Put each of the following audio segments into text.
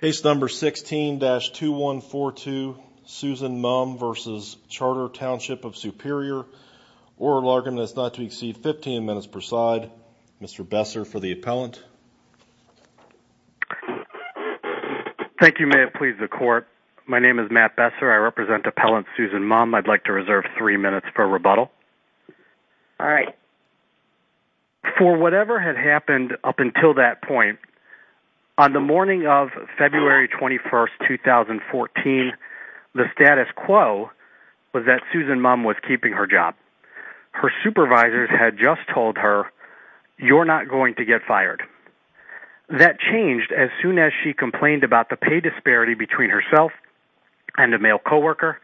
Case No. 16-2142, Susan Mumm v. Charter Township of Superior, Oral Argument that is not to exceed 15 minutes per side. Mr. Besser for the appellant. Thank you, may it please the Court. My name is Matt Besser. I represent Appellant Susan Mumm. I'd like to reserve three minutes for rebuttal. All right. For whatever had happened up until that point, on the morning of February 21, 2014, the status quo was that Susan Mumm was keeping her job. Her supervisors had just told her, you're not going to get fired. That changed as soon as she complained about the pay disparity between herself and a male labor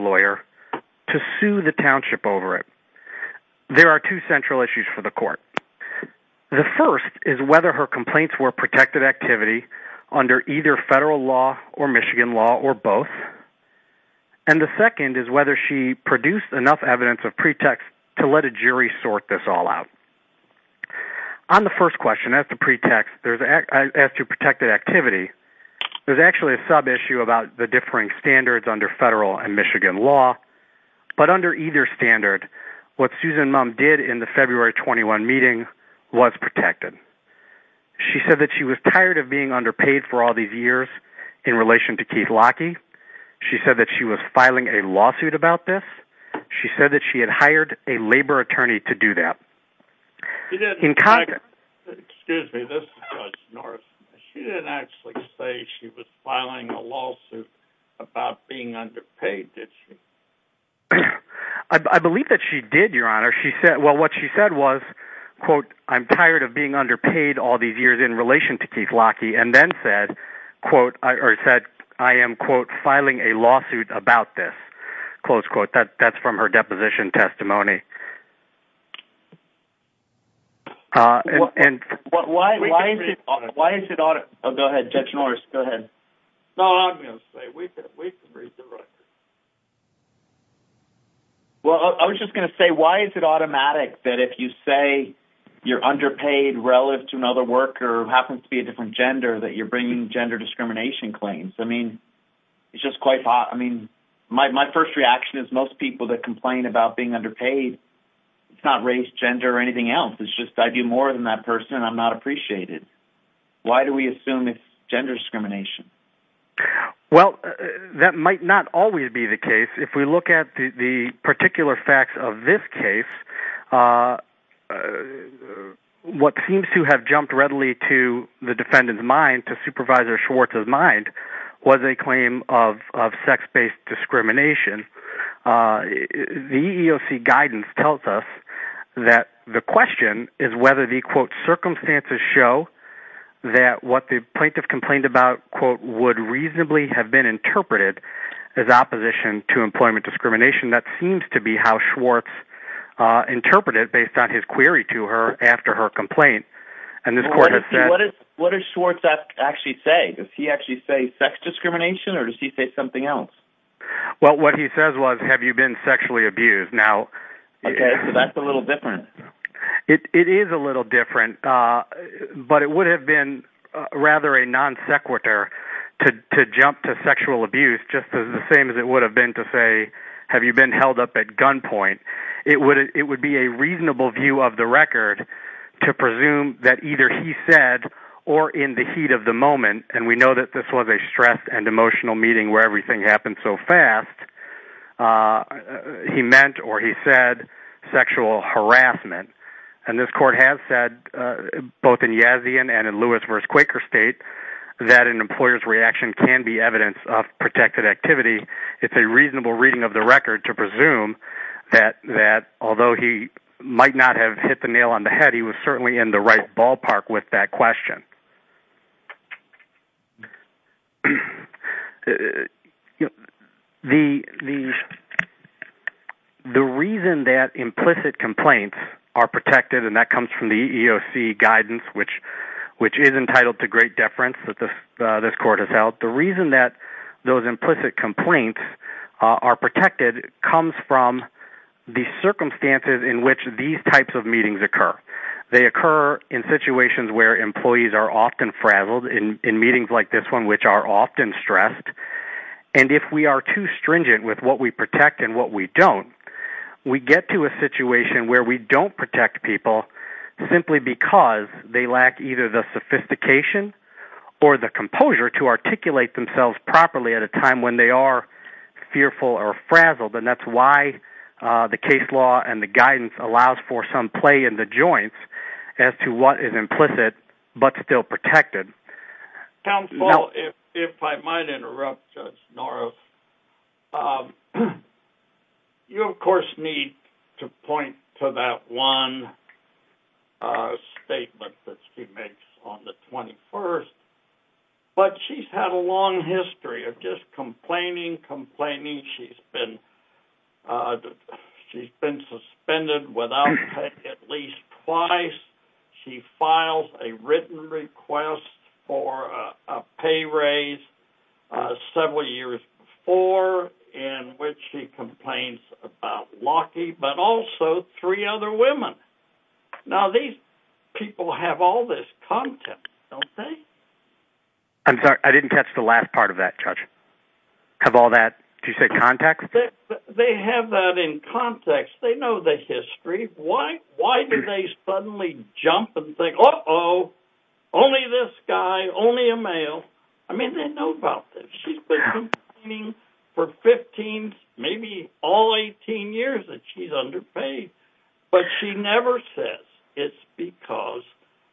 lawyer to sue the township over it. There are two central issues for the Court. The first is whether her complaints were protected activity under either federal law or Michigan law or both. And the second is whether she produced enough evidence of pretext to let a jury sort this all out. On the first question, as to pretext, as to protected activity, there's actually a sub-issue about the differing standards under federal and Michigan law. But under either standard, what Susan Mumm did in the February 21 meeting was protected. She said that she was tired of being underpaid for all these years in relation to Keith Lockheed. She said that she was filing a lawsuit about this. She said that she had hired a labor attorney to do that. She didn't actually say she was filing a lawsuit about being underpaid, did she? I believe that she did, Your Honor. What she said was, quote, I'm tired of being underpaid all these years in relation to Keith Lockheed, and then said, quote, I am, quote, filing a lawsuit about this. Close quote. That's from her deposition testimony. Why is it automatic? Go ahead, Judge Norris, go ahead. No, I'm going to say, we can read the record. Well, I was just going to say, why is it automatic that if you say you're underpaid relative to another worker who happens to be a different gender, that you're bringing gender discrimination claims? I mean, it's just quite... My first reaction is most people that complain about being underpaid, it's not race, gender, or anything else. It's just, I do more than that person, and I'm not appreciated. Why do we assume it's gender discrimination? Well, that might not always be the case. If we look at the particular facts of this case, what seems to have jumped readily to the defendant's mind, to Supervisor Schwartz's mind, was a claim of sex-based discrimination. The EEOC guidance tells us that the question is whether the, quote, circumstances show that what the plaintiff complained about, quote, would reasonably have been interpreted as opposition to employment discrimination. That seems to be how Schwartz interpreted it based on his query to her after her complaint. What does Schwartz actually say? Does he actually say sex discrimination, or does he say something else? Well, what he says was, have you been sexually abused? Now... Okay, so that's a little different. It is a little different, but it would have been rather a non sequitur to jump to sexual abuse, just as the same as it would have been to say, have you been held up at gunpoint? It would be a reasonable view of the record to presume that either he said, or in the heat of the moment, and we know that this was a stressed and emotional meeting where everything happened so fast, he meant or he said sexual harassment. And this court has said, both in Yazian and in Lewis v. Quaker State, that an employer's reaction can be evidence of protected activity. It's a reasonable reading of the record to presume that, although he might not have hit the nail on the head, he was certainly in the right ballpark with that question. The reason that implicit complaints are protected, and that comes from the EEOC guidance, which is entitled to great deference that this court has held. The reason that those implicit complaints are protected comes from the circumstances in which these types of meetings occur. They occur in situations where employees are often frazzled in meetings like this one, which are often stressed. And if we are too stringent with what we protect and what we don't, we get to a situation where we don't protect people simply because they lack either the sophistication or the composure to articulate themselves properly at a time when they are fearful or frazzled. And that's why the case law and the guidance allows for some play in the joints as to what is implicit but still protected. Counsel, if I might interrupt Judge Norris, you of course need to point to that one statement that she makes on the 21st, but she's had a long history of just complaining, complaining. She's been suspended without pay at least twice. She files a written request for a pay raise several years before in which she complains about Lockheed, but also three other women. Now these people have all this context, don't they? I'm sorry, I didn't catch the last part of that, Judge. Of all that, did you say context? They have that in context. They know the history. Why do they suddenly jump and think, uh-oh, only this guy, only a male? I mean, they know about this. She's been complaining for 15, maybe all 18 years that she's underpaid, but she never says it's because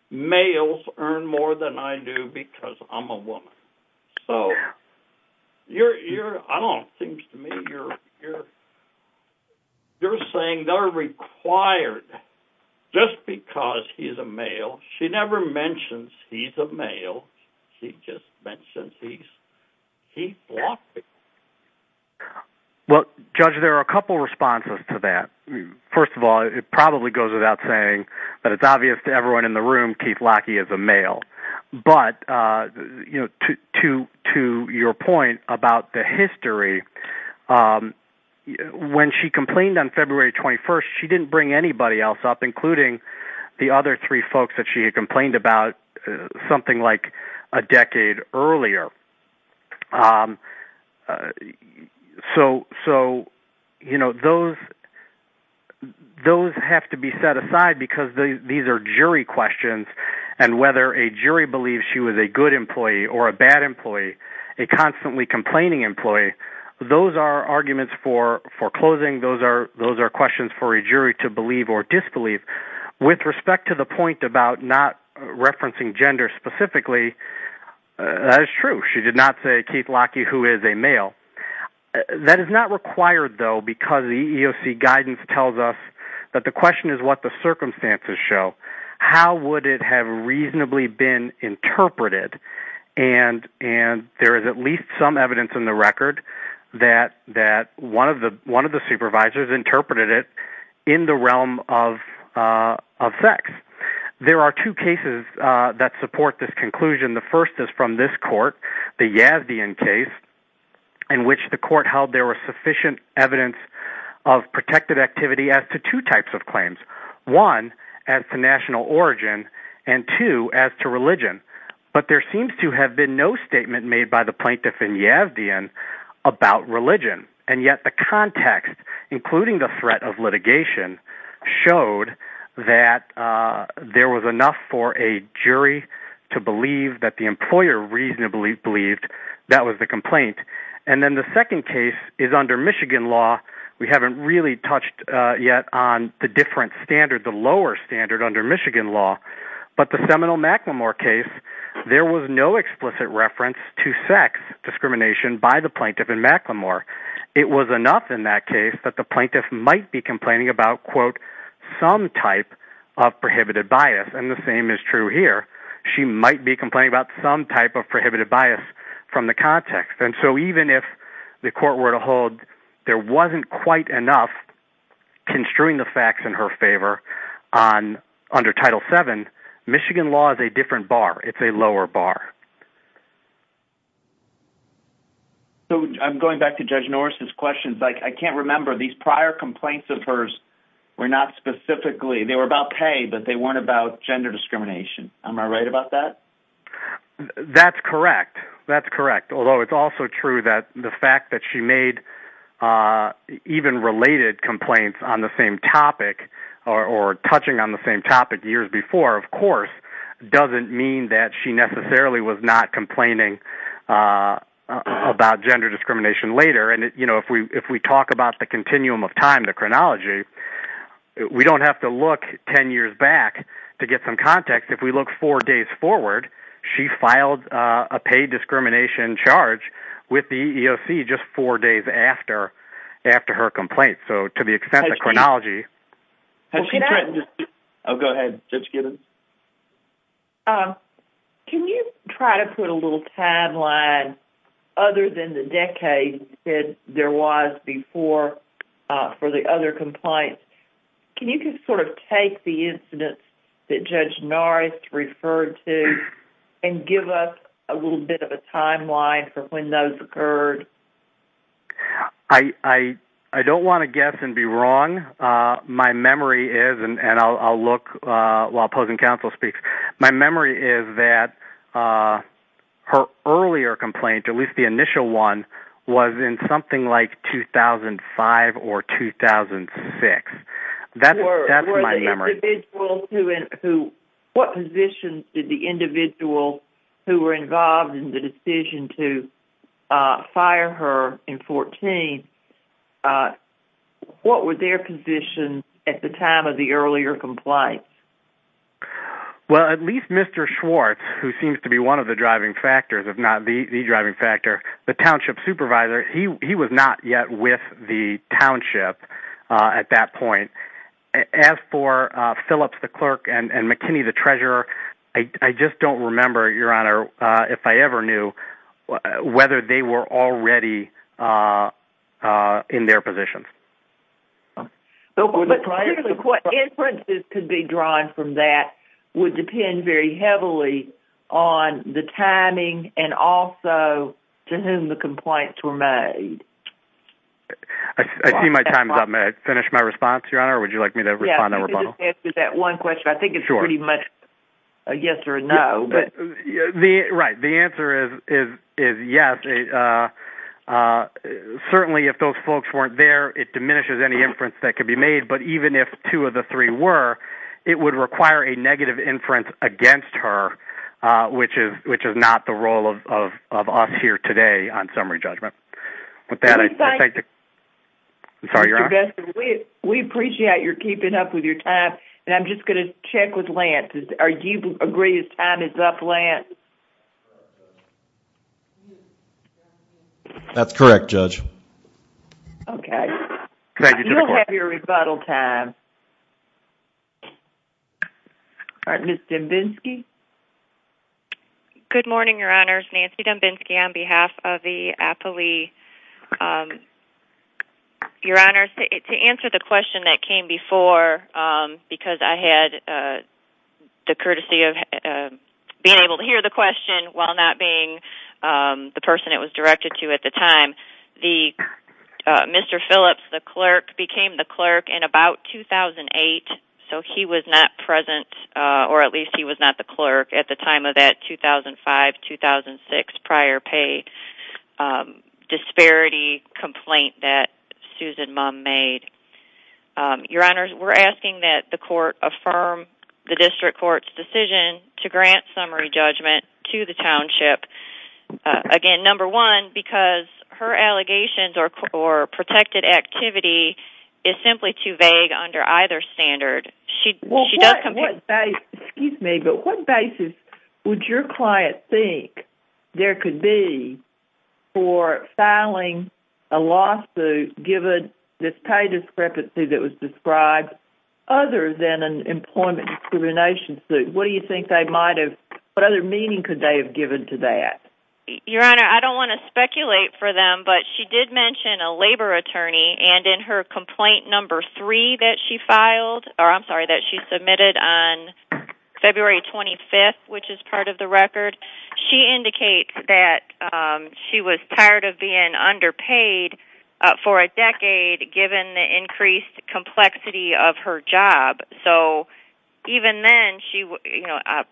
males earn more than I do because I'm a woman. So you're saying they're required just because he's a male. She never mentions he's a male. She just mentions he's Lockheed. Well, Judge, there are a couple responses to that. First of all, it probably goes without saying, but it's obvious to everyone in the room, Keith Lockheed is a male. But to your point about the history, when she complained on February 21st, she didn't bring anybody else up, including the other three folks that she had complained about something like a decade earlier. So, you know, those have to be set aside because these are jury questions, and whether a jury believes she was a good employee or a bad employee, a constantly complaining employee, those are arguments for closing. Those are questions for a jury to believe or disbelieve. With respect to the point about not referencing gender specifically, that is true. She did not say Keith Lockheed, who is a male. That is not required, though, because the EEOC guidance tells us that the question is what the circumstances show. How would it have reasonably been interpreted? And there is at least some evidence in the record that one of the supervisors interpreted it in the realm of sex. There are two cases that support this conclusion. The first is from this court, the Yavdian case, in which the court held there was sufficient evidence of protected activity as to two types of claims. One, as to national origin, and two, as to religion. But there seems to have been no statement made by the plaintiff in Yavdian about religion. And yet the context, including the threat of litigation, showed that there was enough for a jury to believe that the employer reasonably believed that was the complaint. And then the second case is under Michigan law. We haven't really touched yet on the different standard, the lower standard under Michigan law. But the Seminole-McLemore case, there was no explicit reference to sex discrimination by the plaintiff in McLemore. It was enough in that case that the plaintiff might be complaining about, quote, some type of prohibited bias. And the same is true here. She might be complaining about some type of prohibited bias from the context. And so even if the court were to hold there wasn't quite enough construing the facts in her favor under Title VII, Michigan law is a different bar. It's a lower bar. So I'm going back to Judge Norris's questions. I can't remember. These prior complaints of hers were not specifically, they were about pay, but they weren't about gender discrimination. Am I right about that? That's correct. That's correct, although it's also true that the fact that she made even related complaints on the same topic or touching on the same topic years before, of course, doesn't mean that she necessarily was not complaining about gender discrimination later. And, you know, if we talk about the continuum of time, the chronology, we don't have to look 10 years back to get some context. If we look four days forward, she filed a pay discrimination charge with the EEOC just four days after her complaint. So to the extent the chronology. Go ahead, Judge Giddens. Can you try to put a little timeline other than the decade that there was before for the other complaints? Can you just sort of take the incidents that Judge Norris referred to and give us a little bit of a timeline for when those occurred? I don't want to guess and be wrong. My memory is, and I'll look while opposing counsel speaks, my memory is that her earlier complaint, at least the initial one, was in something like 2005 or 2006. What position did the individual who were involved in the decision to fire her in 2014, what was their position at the time of the earlier complaint? Well, at least Mr. Schwartz, who seems to be one of the driving factors, if not the driving factor, the township supervisor, he was not yet with the township at that point. As for Phillips, the clerk, and McKinney, the treasurer, I just don't remember, Your Honor, if I ever knew whether they were already in their positions. But typically what inferences could be drawn from that would depend very heavily on the timing and also to whom the complaints were made. I see my time's up. May I finish my response, Your Honor, or would you like me to respond? Let me just answer that one question. I think it's pretty much a yes or a no. Right, the answer is yes. Certainly if those folks weren't there, it diminishes any inference that could be made, but even if two of the three were, it would require a negative inference against her, which is not the role of us here today on summary judgment. We appreciate your keeping up with your time, and I'm just going to check with Lance. Do you agree his time is up, Lance? That's correct, Judge. Okay. You'll have your rebuttal time. All right, Ms. Dembinski? Good morning, Your Honor. Nancy Dembinski on behalf of the appellee. Your Honor, to answer the question that came before, because I had the courtesy of being able to hear the question while not being the person it was directed to at the time, Mr. Phillips, the clerk, became the clerk in about 2008, so he was not present, or at least he was not the clerk at the time of that 2005-2006 prior pay disparity complaint that Susan Mumm made. Your Honor, we're asking that the court affirm the district court's decision to grant summary judgment to the township. Again, number one, because her allegations or protected activity is simply too vague under either standard. Excuse me, but what basis would your client think there could be for filing a lawsuit given this pay discrepancy that was described other than an employment discrimination suit? What other meaning could they have given to that? Your Honor, I don't want to speculate for them, but she did mention a labor attorney, and in her complaint number three that she submitted on February 25th, which is part of the record, she indicates that she was tired of being underpaid for a decade given the increased complexity of her job. So even then,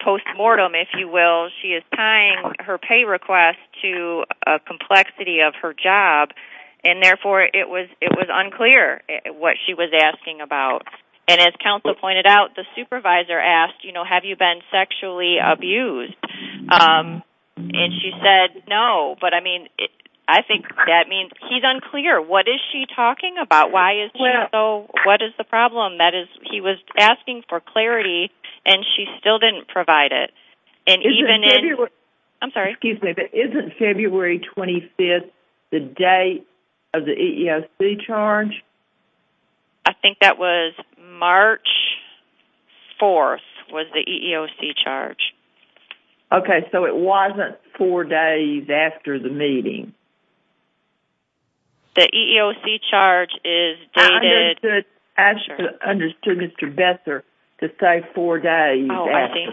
post-mortem, if you will, she is tying her pay request to a complexity of her job, and therefore it was unclear what she was asking about. And as counsel pointed out, the supervisor asked, you know, have you been sexually abused? And she said no, but I mean, I think that means he's unclear. What is she talking about? Why is she so, what is the problem? That is, he was asking for clarity, and she still didn't provide it. And even in, I'm sorry. Excuse me, but isn't February 25th the date of the EEOC charge? I think that was March 4th was the EEOC charge. Okay, so it wasn't four days after the meeting. The EEOC charge is dated. I understood Mr. Besser to say four days after. Oh, I see.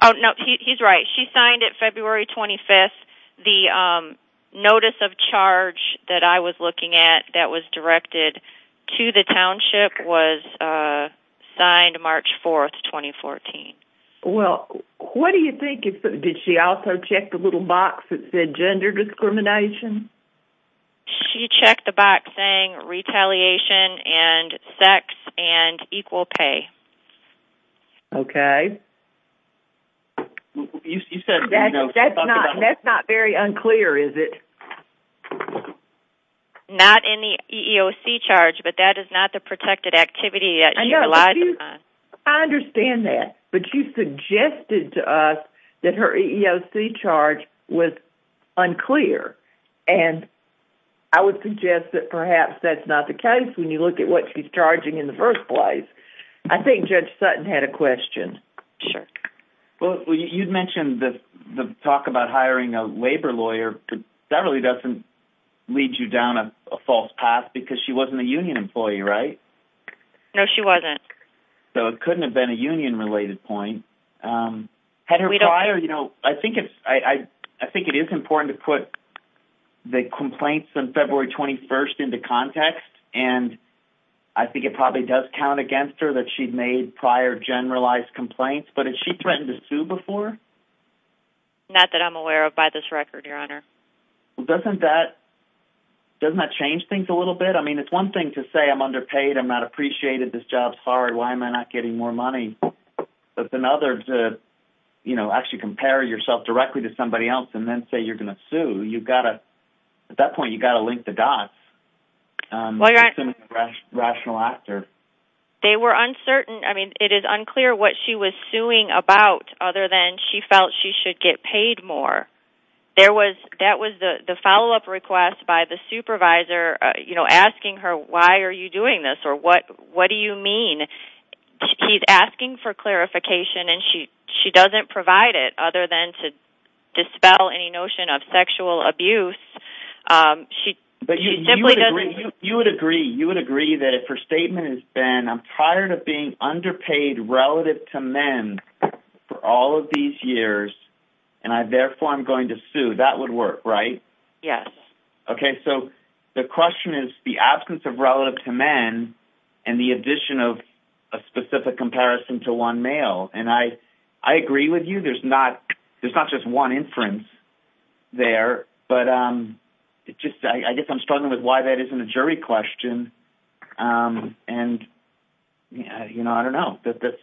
Oh, no, he's right. She signed it February 25th. The notice of charge that I was looking at that was directed to the township was signed March 4th, 2014. Well, what do you think, did she also check the little box that said gender discrimination? She checked the box saying retaliation and sex and equal pay. Okay. That's not very unclear, is it? Not in the EEOC charge, but that is not the protected activity that you relied upon. I understand that, but you suggested to us that her EEOC charge was unclear, and I would suggest that perhaps that's not the case when you look at what she's charging in the first place. I think Judge Sutton had a question. Sure. Well, you mentioned the talk about hiring a labor lawyer, but that really doesn't lead you down a false path because she wasn't a union employee, right? No, she wasn't. So it couldn't have been a union-related point. Had her prior, you know, I think it is important to put the complaints on February 21st into context, and I think it probably does count against her that she'd made prior generalized complaints, but had she threatened to sue before? Not that I'm aware of by this record, Your Honor. Well, doesn't that change things a little bit? I mean, it's one thing to say I'm underpaid, I'm not appreciated, this job's hard, why am I not getting more money, but it's another to, you know, actually compare yourself directly to somebody else and then say you're going to sue. At that point, you've got to link the dots. Well, Your Honor. It's a rational actor. They were uncertain. I mean, it is unclear what she was suing about other than she felt she should get paid more. That was the follow-up request by the supervisor, you know, asking her, why are you doing this or what do you mean? He's asking for clarification, and she doesn't provide it other than to dispel any notion of sexual abuse. But you would agree that if her statement has been, I'm tired of being underpaid relative to men for all of these years, and therefore I'm going to sue, that would work, right? Yes. Okay. So the question is the absence of relative to men and the addition of a specific comparison to one male, and I agree with you. There's not just one inference there, but I guess I'm struggling with why that isn't a jury question, and, you know, I don't know.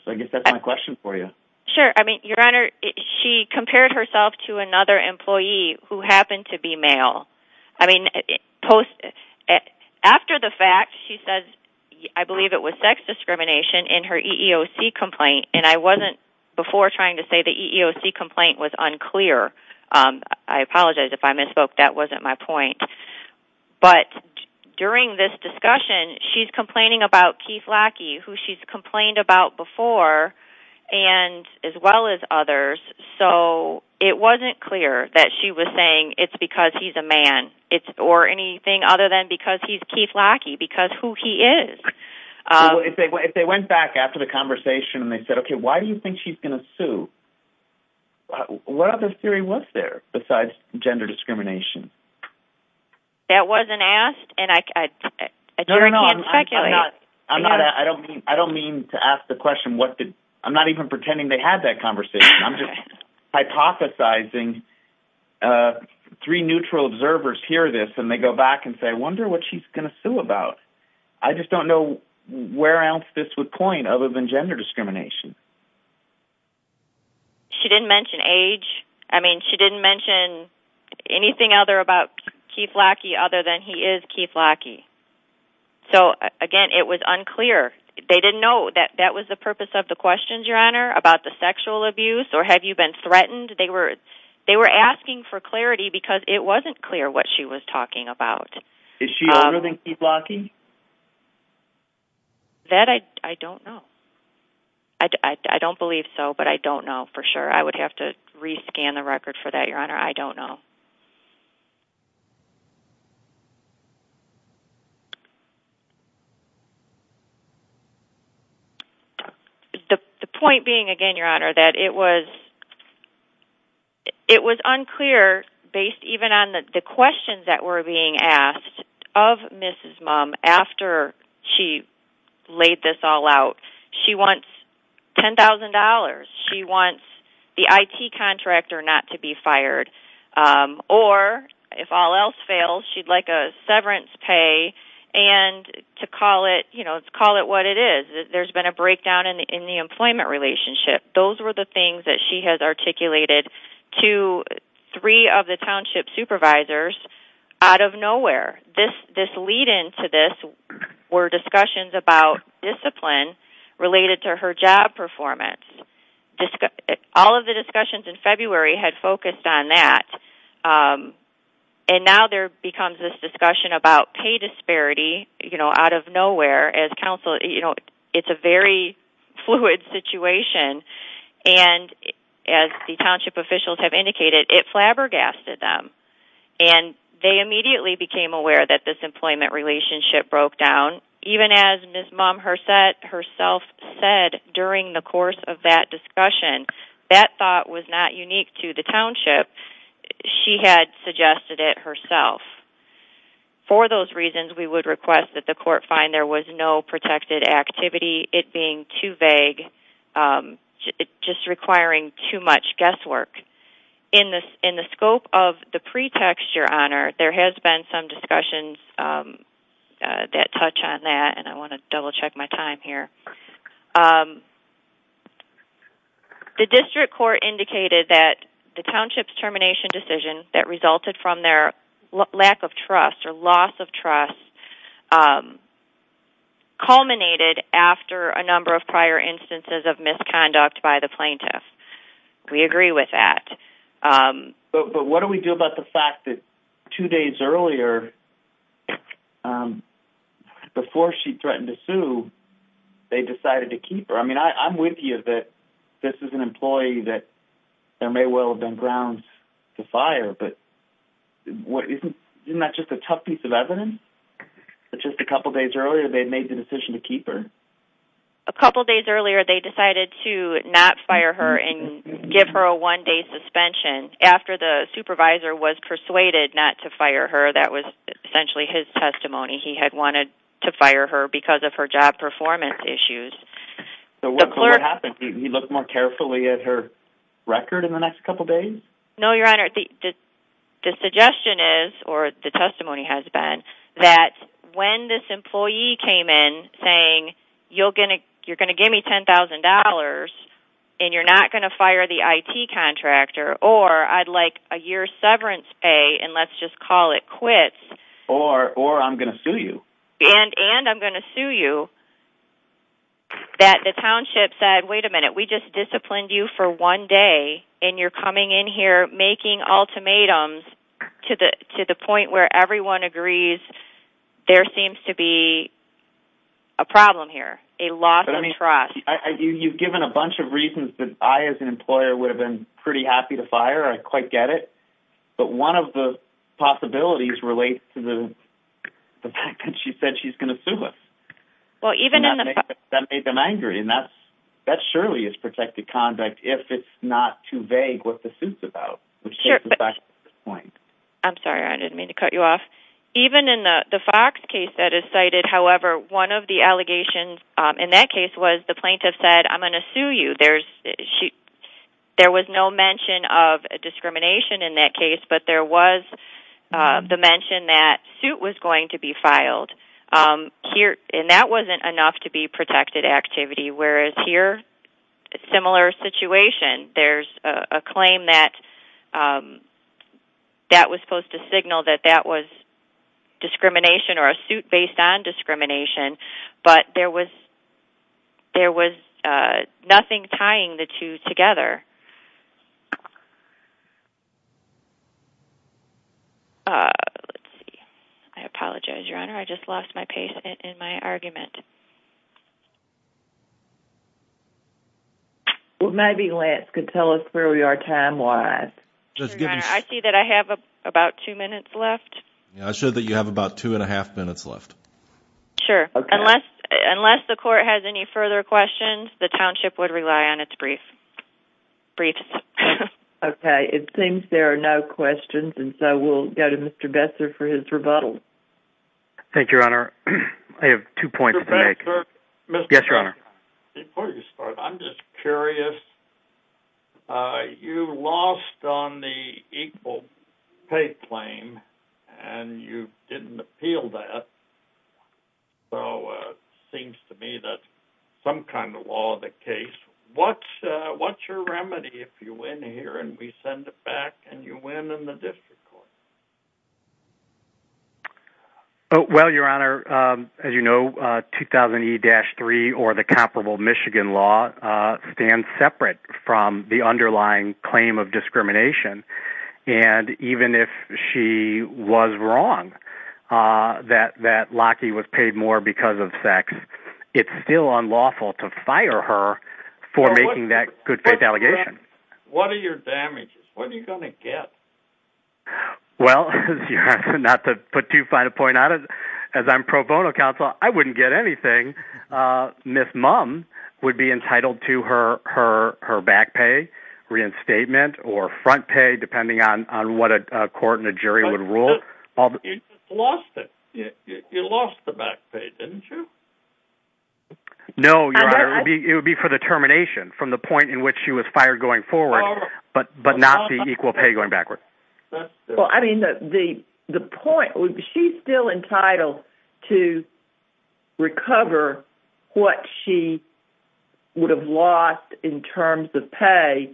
I guess that's my question for you. Sure. I mean, Your Honor, she compared herself to another employee who happened to be male. I mean, after the fact, she says, I believe it was sex discrimination in her EEOC complaint, and I wasn't before trying to say the EEOC complaint was unclear. I apologize if I misspoke. That wasn't my point. But during this discussion, she's complaining about Keith Lackey, who she's complained about before, as well as others. So it wasn't clear that she was saying it's because he's a man or anything other than because he's Keith Lackey, because who he is. So if they went back after the conversation and they said, okay, why do you think she's going to sue, what other theory was there besides gender discrimination? That wasn't asked, and a jury can't speculate. No, no, no. I don't mean to ask the question. I'm not even pretending they had that conversation. I'm just hypothesizing three neutral observers hear this, and they go back and say, I wonder what she's going to sue about. I just don't know where else this would point other than gender discrimination. She didn't mention age. I mean, she didn't mention anything other about Keith Lackey other than he is Keith Lackey. So, again, it was unclear. They didn't know that that was the purpose of the questions, Your Honor, about the sexual abuse or have you been threatened. They were asking for clarity because it wasn't clear what she was talking about. Is she older than Keith Lackey? That I don't know. I don't believe so, but I don't know for sure. I would have to re-scan the record for that, Your Honor. I don't know. The point being, again, Your Honor, that it was unclear based even on the questions that were being asked of Mrs. Mum after she laid this all out. She wants $10,000. She wants the IT contractor not to be fired. Or if all else fails, she'd like a severance pay and to call it what it is. There's been a breakdown in the employment relationship. Those were the things that she has articulated to three of the township supervisors out of nowhere. This lead-in to this were discussions about discipline related to her job performance. All of the discussions in February had focused on that. And now there becomes this discussion about pay disparity out of nowhere. It's a very fluid situation. And as the township officials have indicated, it flabbergasted them. And they immediately became aware that this employment relationship broke down. Even as Mrs. Mum herself said during the course of that discussion, that thought was not unique to the township. She had suggested it herself. For those reasons, we would request that the court find there was no protected activity, it being too vague, just requiring too much guesswork. In the scope of the pretext, Your Honor, there has been some discussions that touch on that. And I want to double-check my time here. The district court indicated that the township's termination decision that resulted from their lack of trust or loss of trust culminated after a number of prior instances of misconduct by the plaintiff. We agree with that. But what do we do about the fact that two days earlier, before she threatened to sue, they decided to keep her? I mean, I'm with you that this is an employee that there may well have been grounds to fire, but isn't that just a tough piece of evidence that just a couple days earlier they made the decision to keep her? A couple days earlier they decided to not fire her and give her a one-day suspension. After the supervisor was persuaded not to fire her, that was essentially his testimony. He had wanted to fire her because of her job performance issues. So what happened? He looked more carefully at her record in the next couple days? No, Your Honor. The suggestion is, or the testimony has been, that when this employee came in saying, you're going to give me $10,000 and you're not going to fire the IT contractor, or I'd like a year's severance pay and let's just call it quits. Or I'm going to sue you. And I'm going to sue you. That the township said, wait a minute, we just disciplined you for one day and you're coming in here making ultimatums to the point where everyone agrees there seems to be a problem here, a loss of trust. You've given a bunch of reasons that I as an employer would have been pretty happy to fire, I quite get it. But one of the possibilities relates to the fact that she said she's going to sue us. That made them angry, and that surely is protected conduct if it's not too vague what the suit's about. I'm sorry, I didn't mean to cut you off. Even in the Fox case that is cited, however, one of the allegations in that case was the plaintiff said, I'm going to sue you. There was no mention of discrimination in that case, but there was the mention that suit was going to be filed. And that wasn't enough to be protected activity, whereas here, similar situation. There's a claim that that was supposed to signal that that was discrimination or a suit based on discrimination, but there was nothing tying the two together. I apologize, Your Honor. I just lost my pace in my argument. Well, maybe Lance could tell us where we are time-wise. I see that I have about two minutes left. I show that you have about two and a half minutes left. Sure. Unless the court has any further questions, the township would rely on its brief. Brief. Okay. It seems there are no questions, and so we'll go to Mr. Besser for his rebuttal. Thank you, Your Honor. I have two points to make. Mr. Besser? Yes, Your Honor. Before you start, I'm just curious. You lost on the equal pay claim, and you didn't appeal that. So it seems to me that some kind of law of the case. What's your remedy if you win here and we send it back and you win in the district court? Well, Your Honor, as you know, 2000E-3 or the comparable Michigan law stand separate from the underlying claim of discrimination, and even if she was wrong that Lockheed was paid more because of sex, it's still unlawful to fire her for making that good-faith allegation. What are your damages? What are you going to get? Well, Your Honor, not to put too fine a point on it, as I'm pro bono counsel, I wouldn't get anything. Ms. Mum would be entitled to her back pay, reinstatement, or front pay, depending on what a court and a jury would rule. But you lost it. You lost the back pay, didn't you? No, Your Honor. It would be for the termination from the point in which she was fired going forward, but not the equal pay going backward. Well, I mean, the point, she's still entitled to recover what she would have lost in terms of pay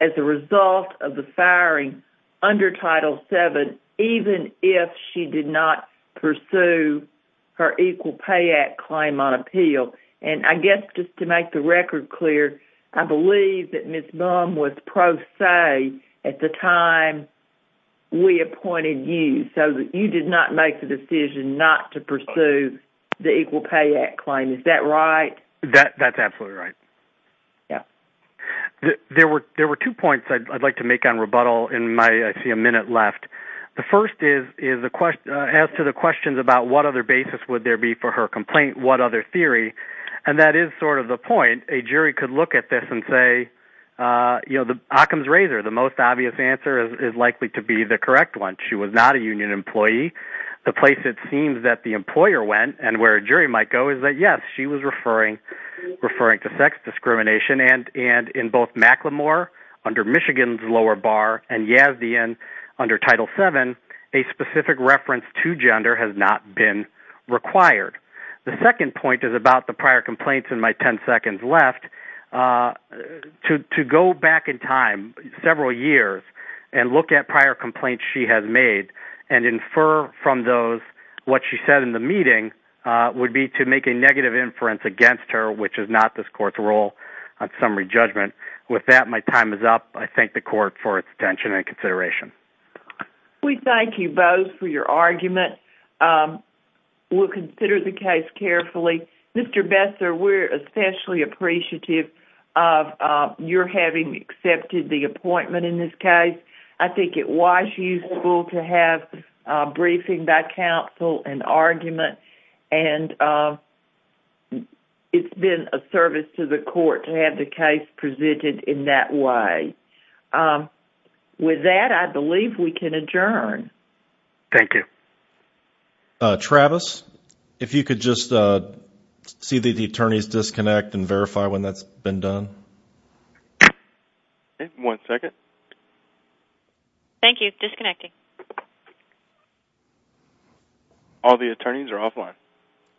as a result of the firing under Title VII, even if she did not pursue her Equal Pay Act claim on appeal. And I guess just to make the record clear, I believe that Ms. Mum was pro se at the time we appointed you, so that you did not make the decision not to pursue the Equal Pay Act claim. Is that right? That's absolutely right. There were two points I'd like to make on rebuttal, and I see a minute left. The first is, as to the questions about what other basis would there be for her complaint, what other theory, and that is sort of the point, a jury could look at this and say, you know, the Occam's razor, the most obvious answer is likely to be the correct one. She was not a union employee. The place it seems that the employer went and where a jury might go is that, yes, she was referring to sex discrimination, and in both McLemore under Michigan's lower bar and Yazdian under Title VII, a specific reference to gender has not been required. The second point is about the prior complaints in my 10 seconds left. To go back in time several years and look at prior complaints she has made and infer from those what she said in the meeting would be to make a negative inference against her, which is not this court's role on summary judgment. With that, my time is up. I thank the court for its attention and consideration. We thank you both for your argument. We'll consider the case carefully. Mr. Besser, we're especially appreciative of your having accepted the appointment in this case. I think it was useful to have briefing by counsel and argument, and it's been a service to the court to have the case presented in that way. With that, I believe we can adjourn. Thank you. Travis, if you could just see the attorney's disconnect and verify when that's been done. One second. Thank you. Disconnecting. All the attorneys are offline.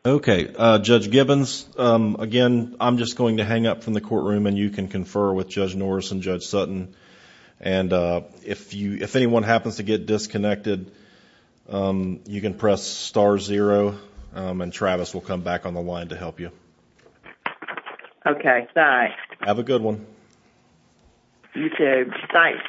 Okay. Judge Gibbons, again, I'm just going to hang up from the courtroom, and you can confer with Judge Norris and Judge Sutton. If anyone happens to get disconnected, you can press star zero, and Travis will come back on the line to help you. Okay. Thanks. Have a good one. You, too. Thanks, Leia.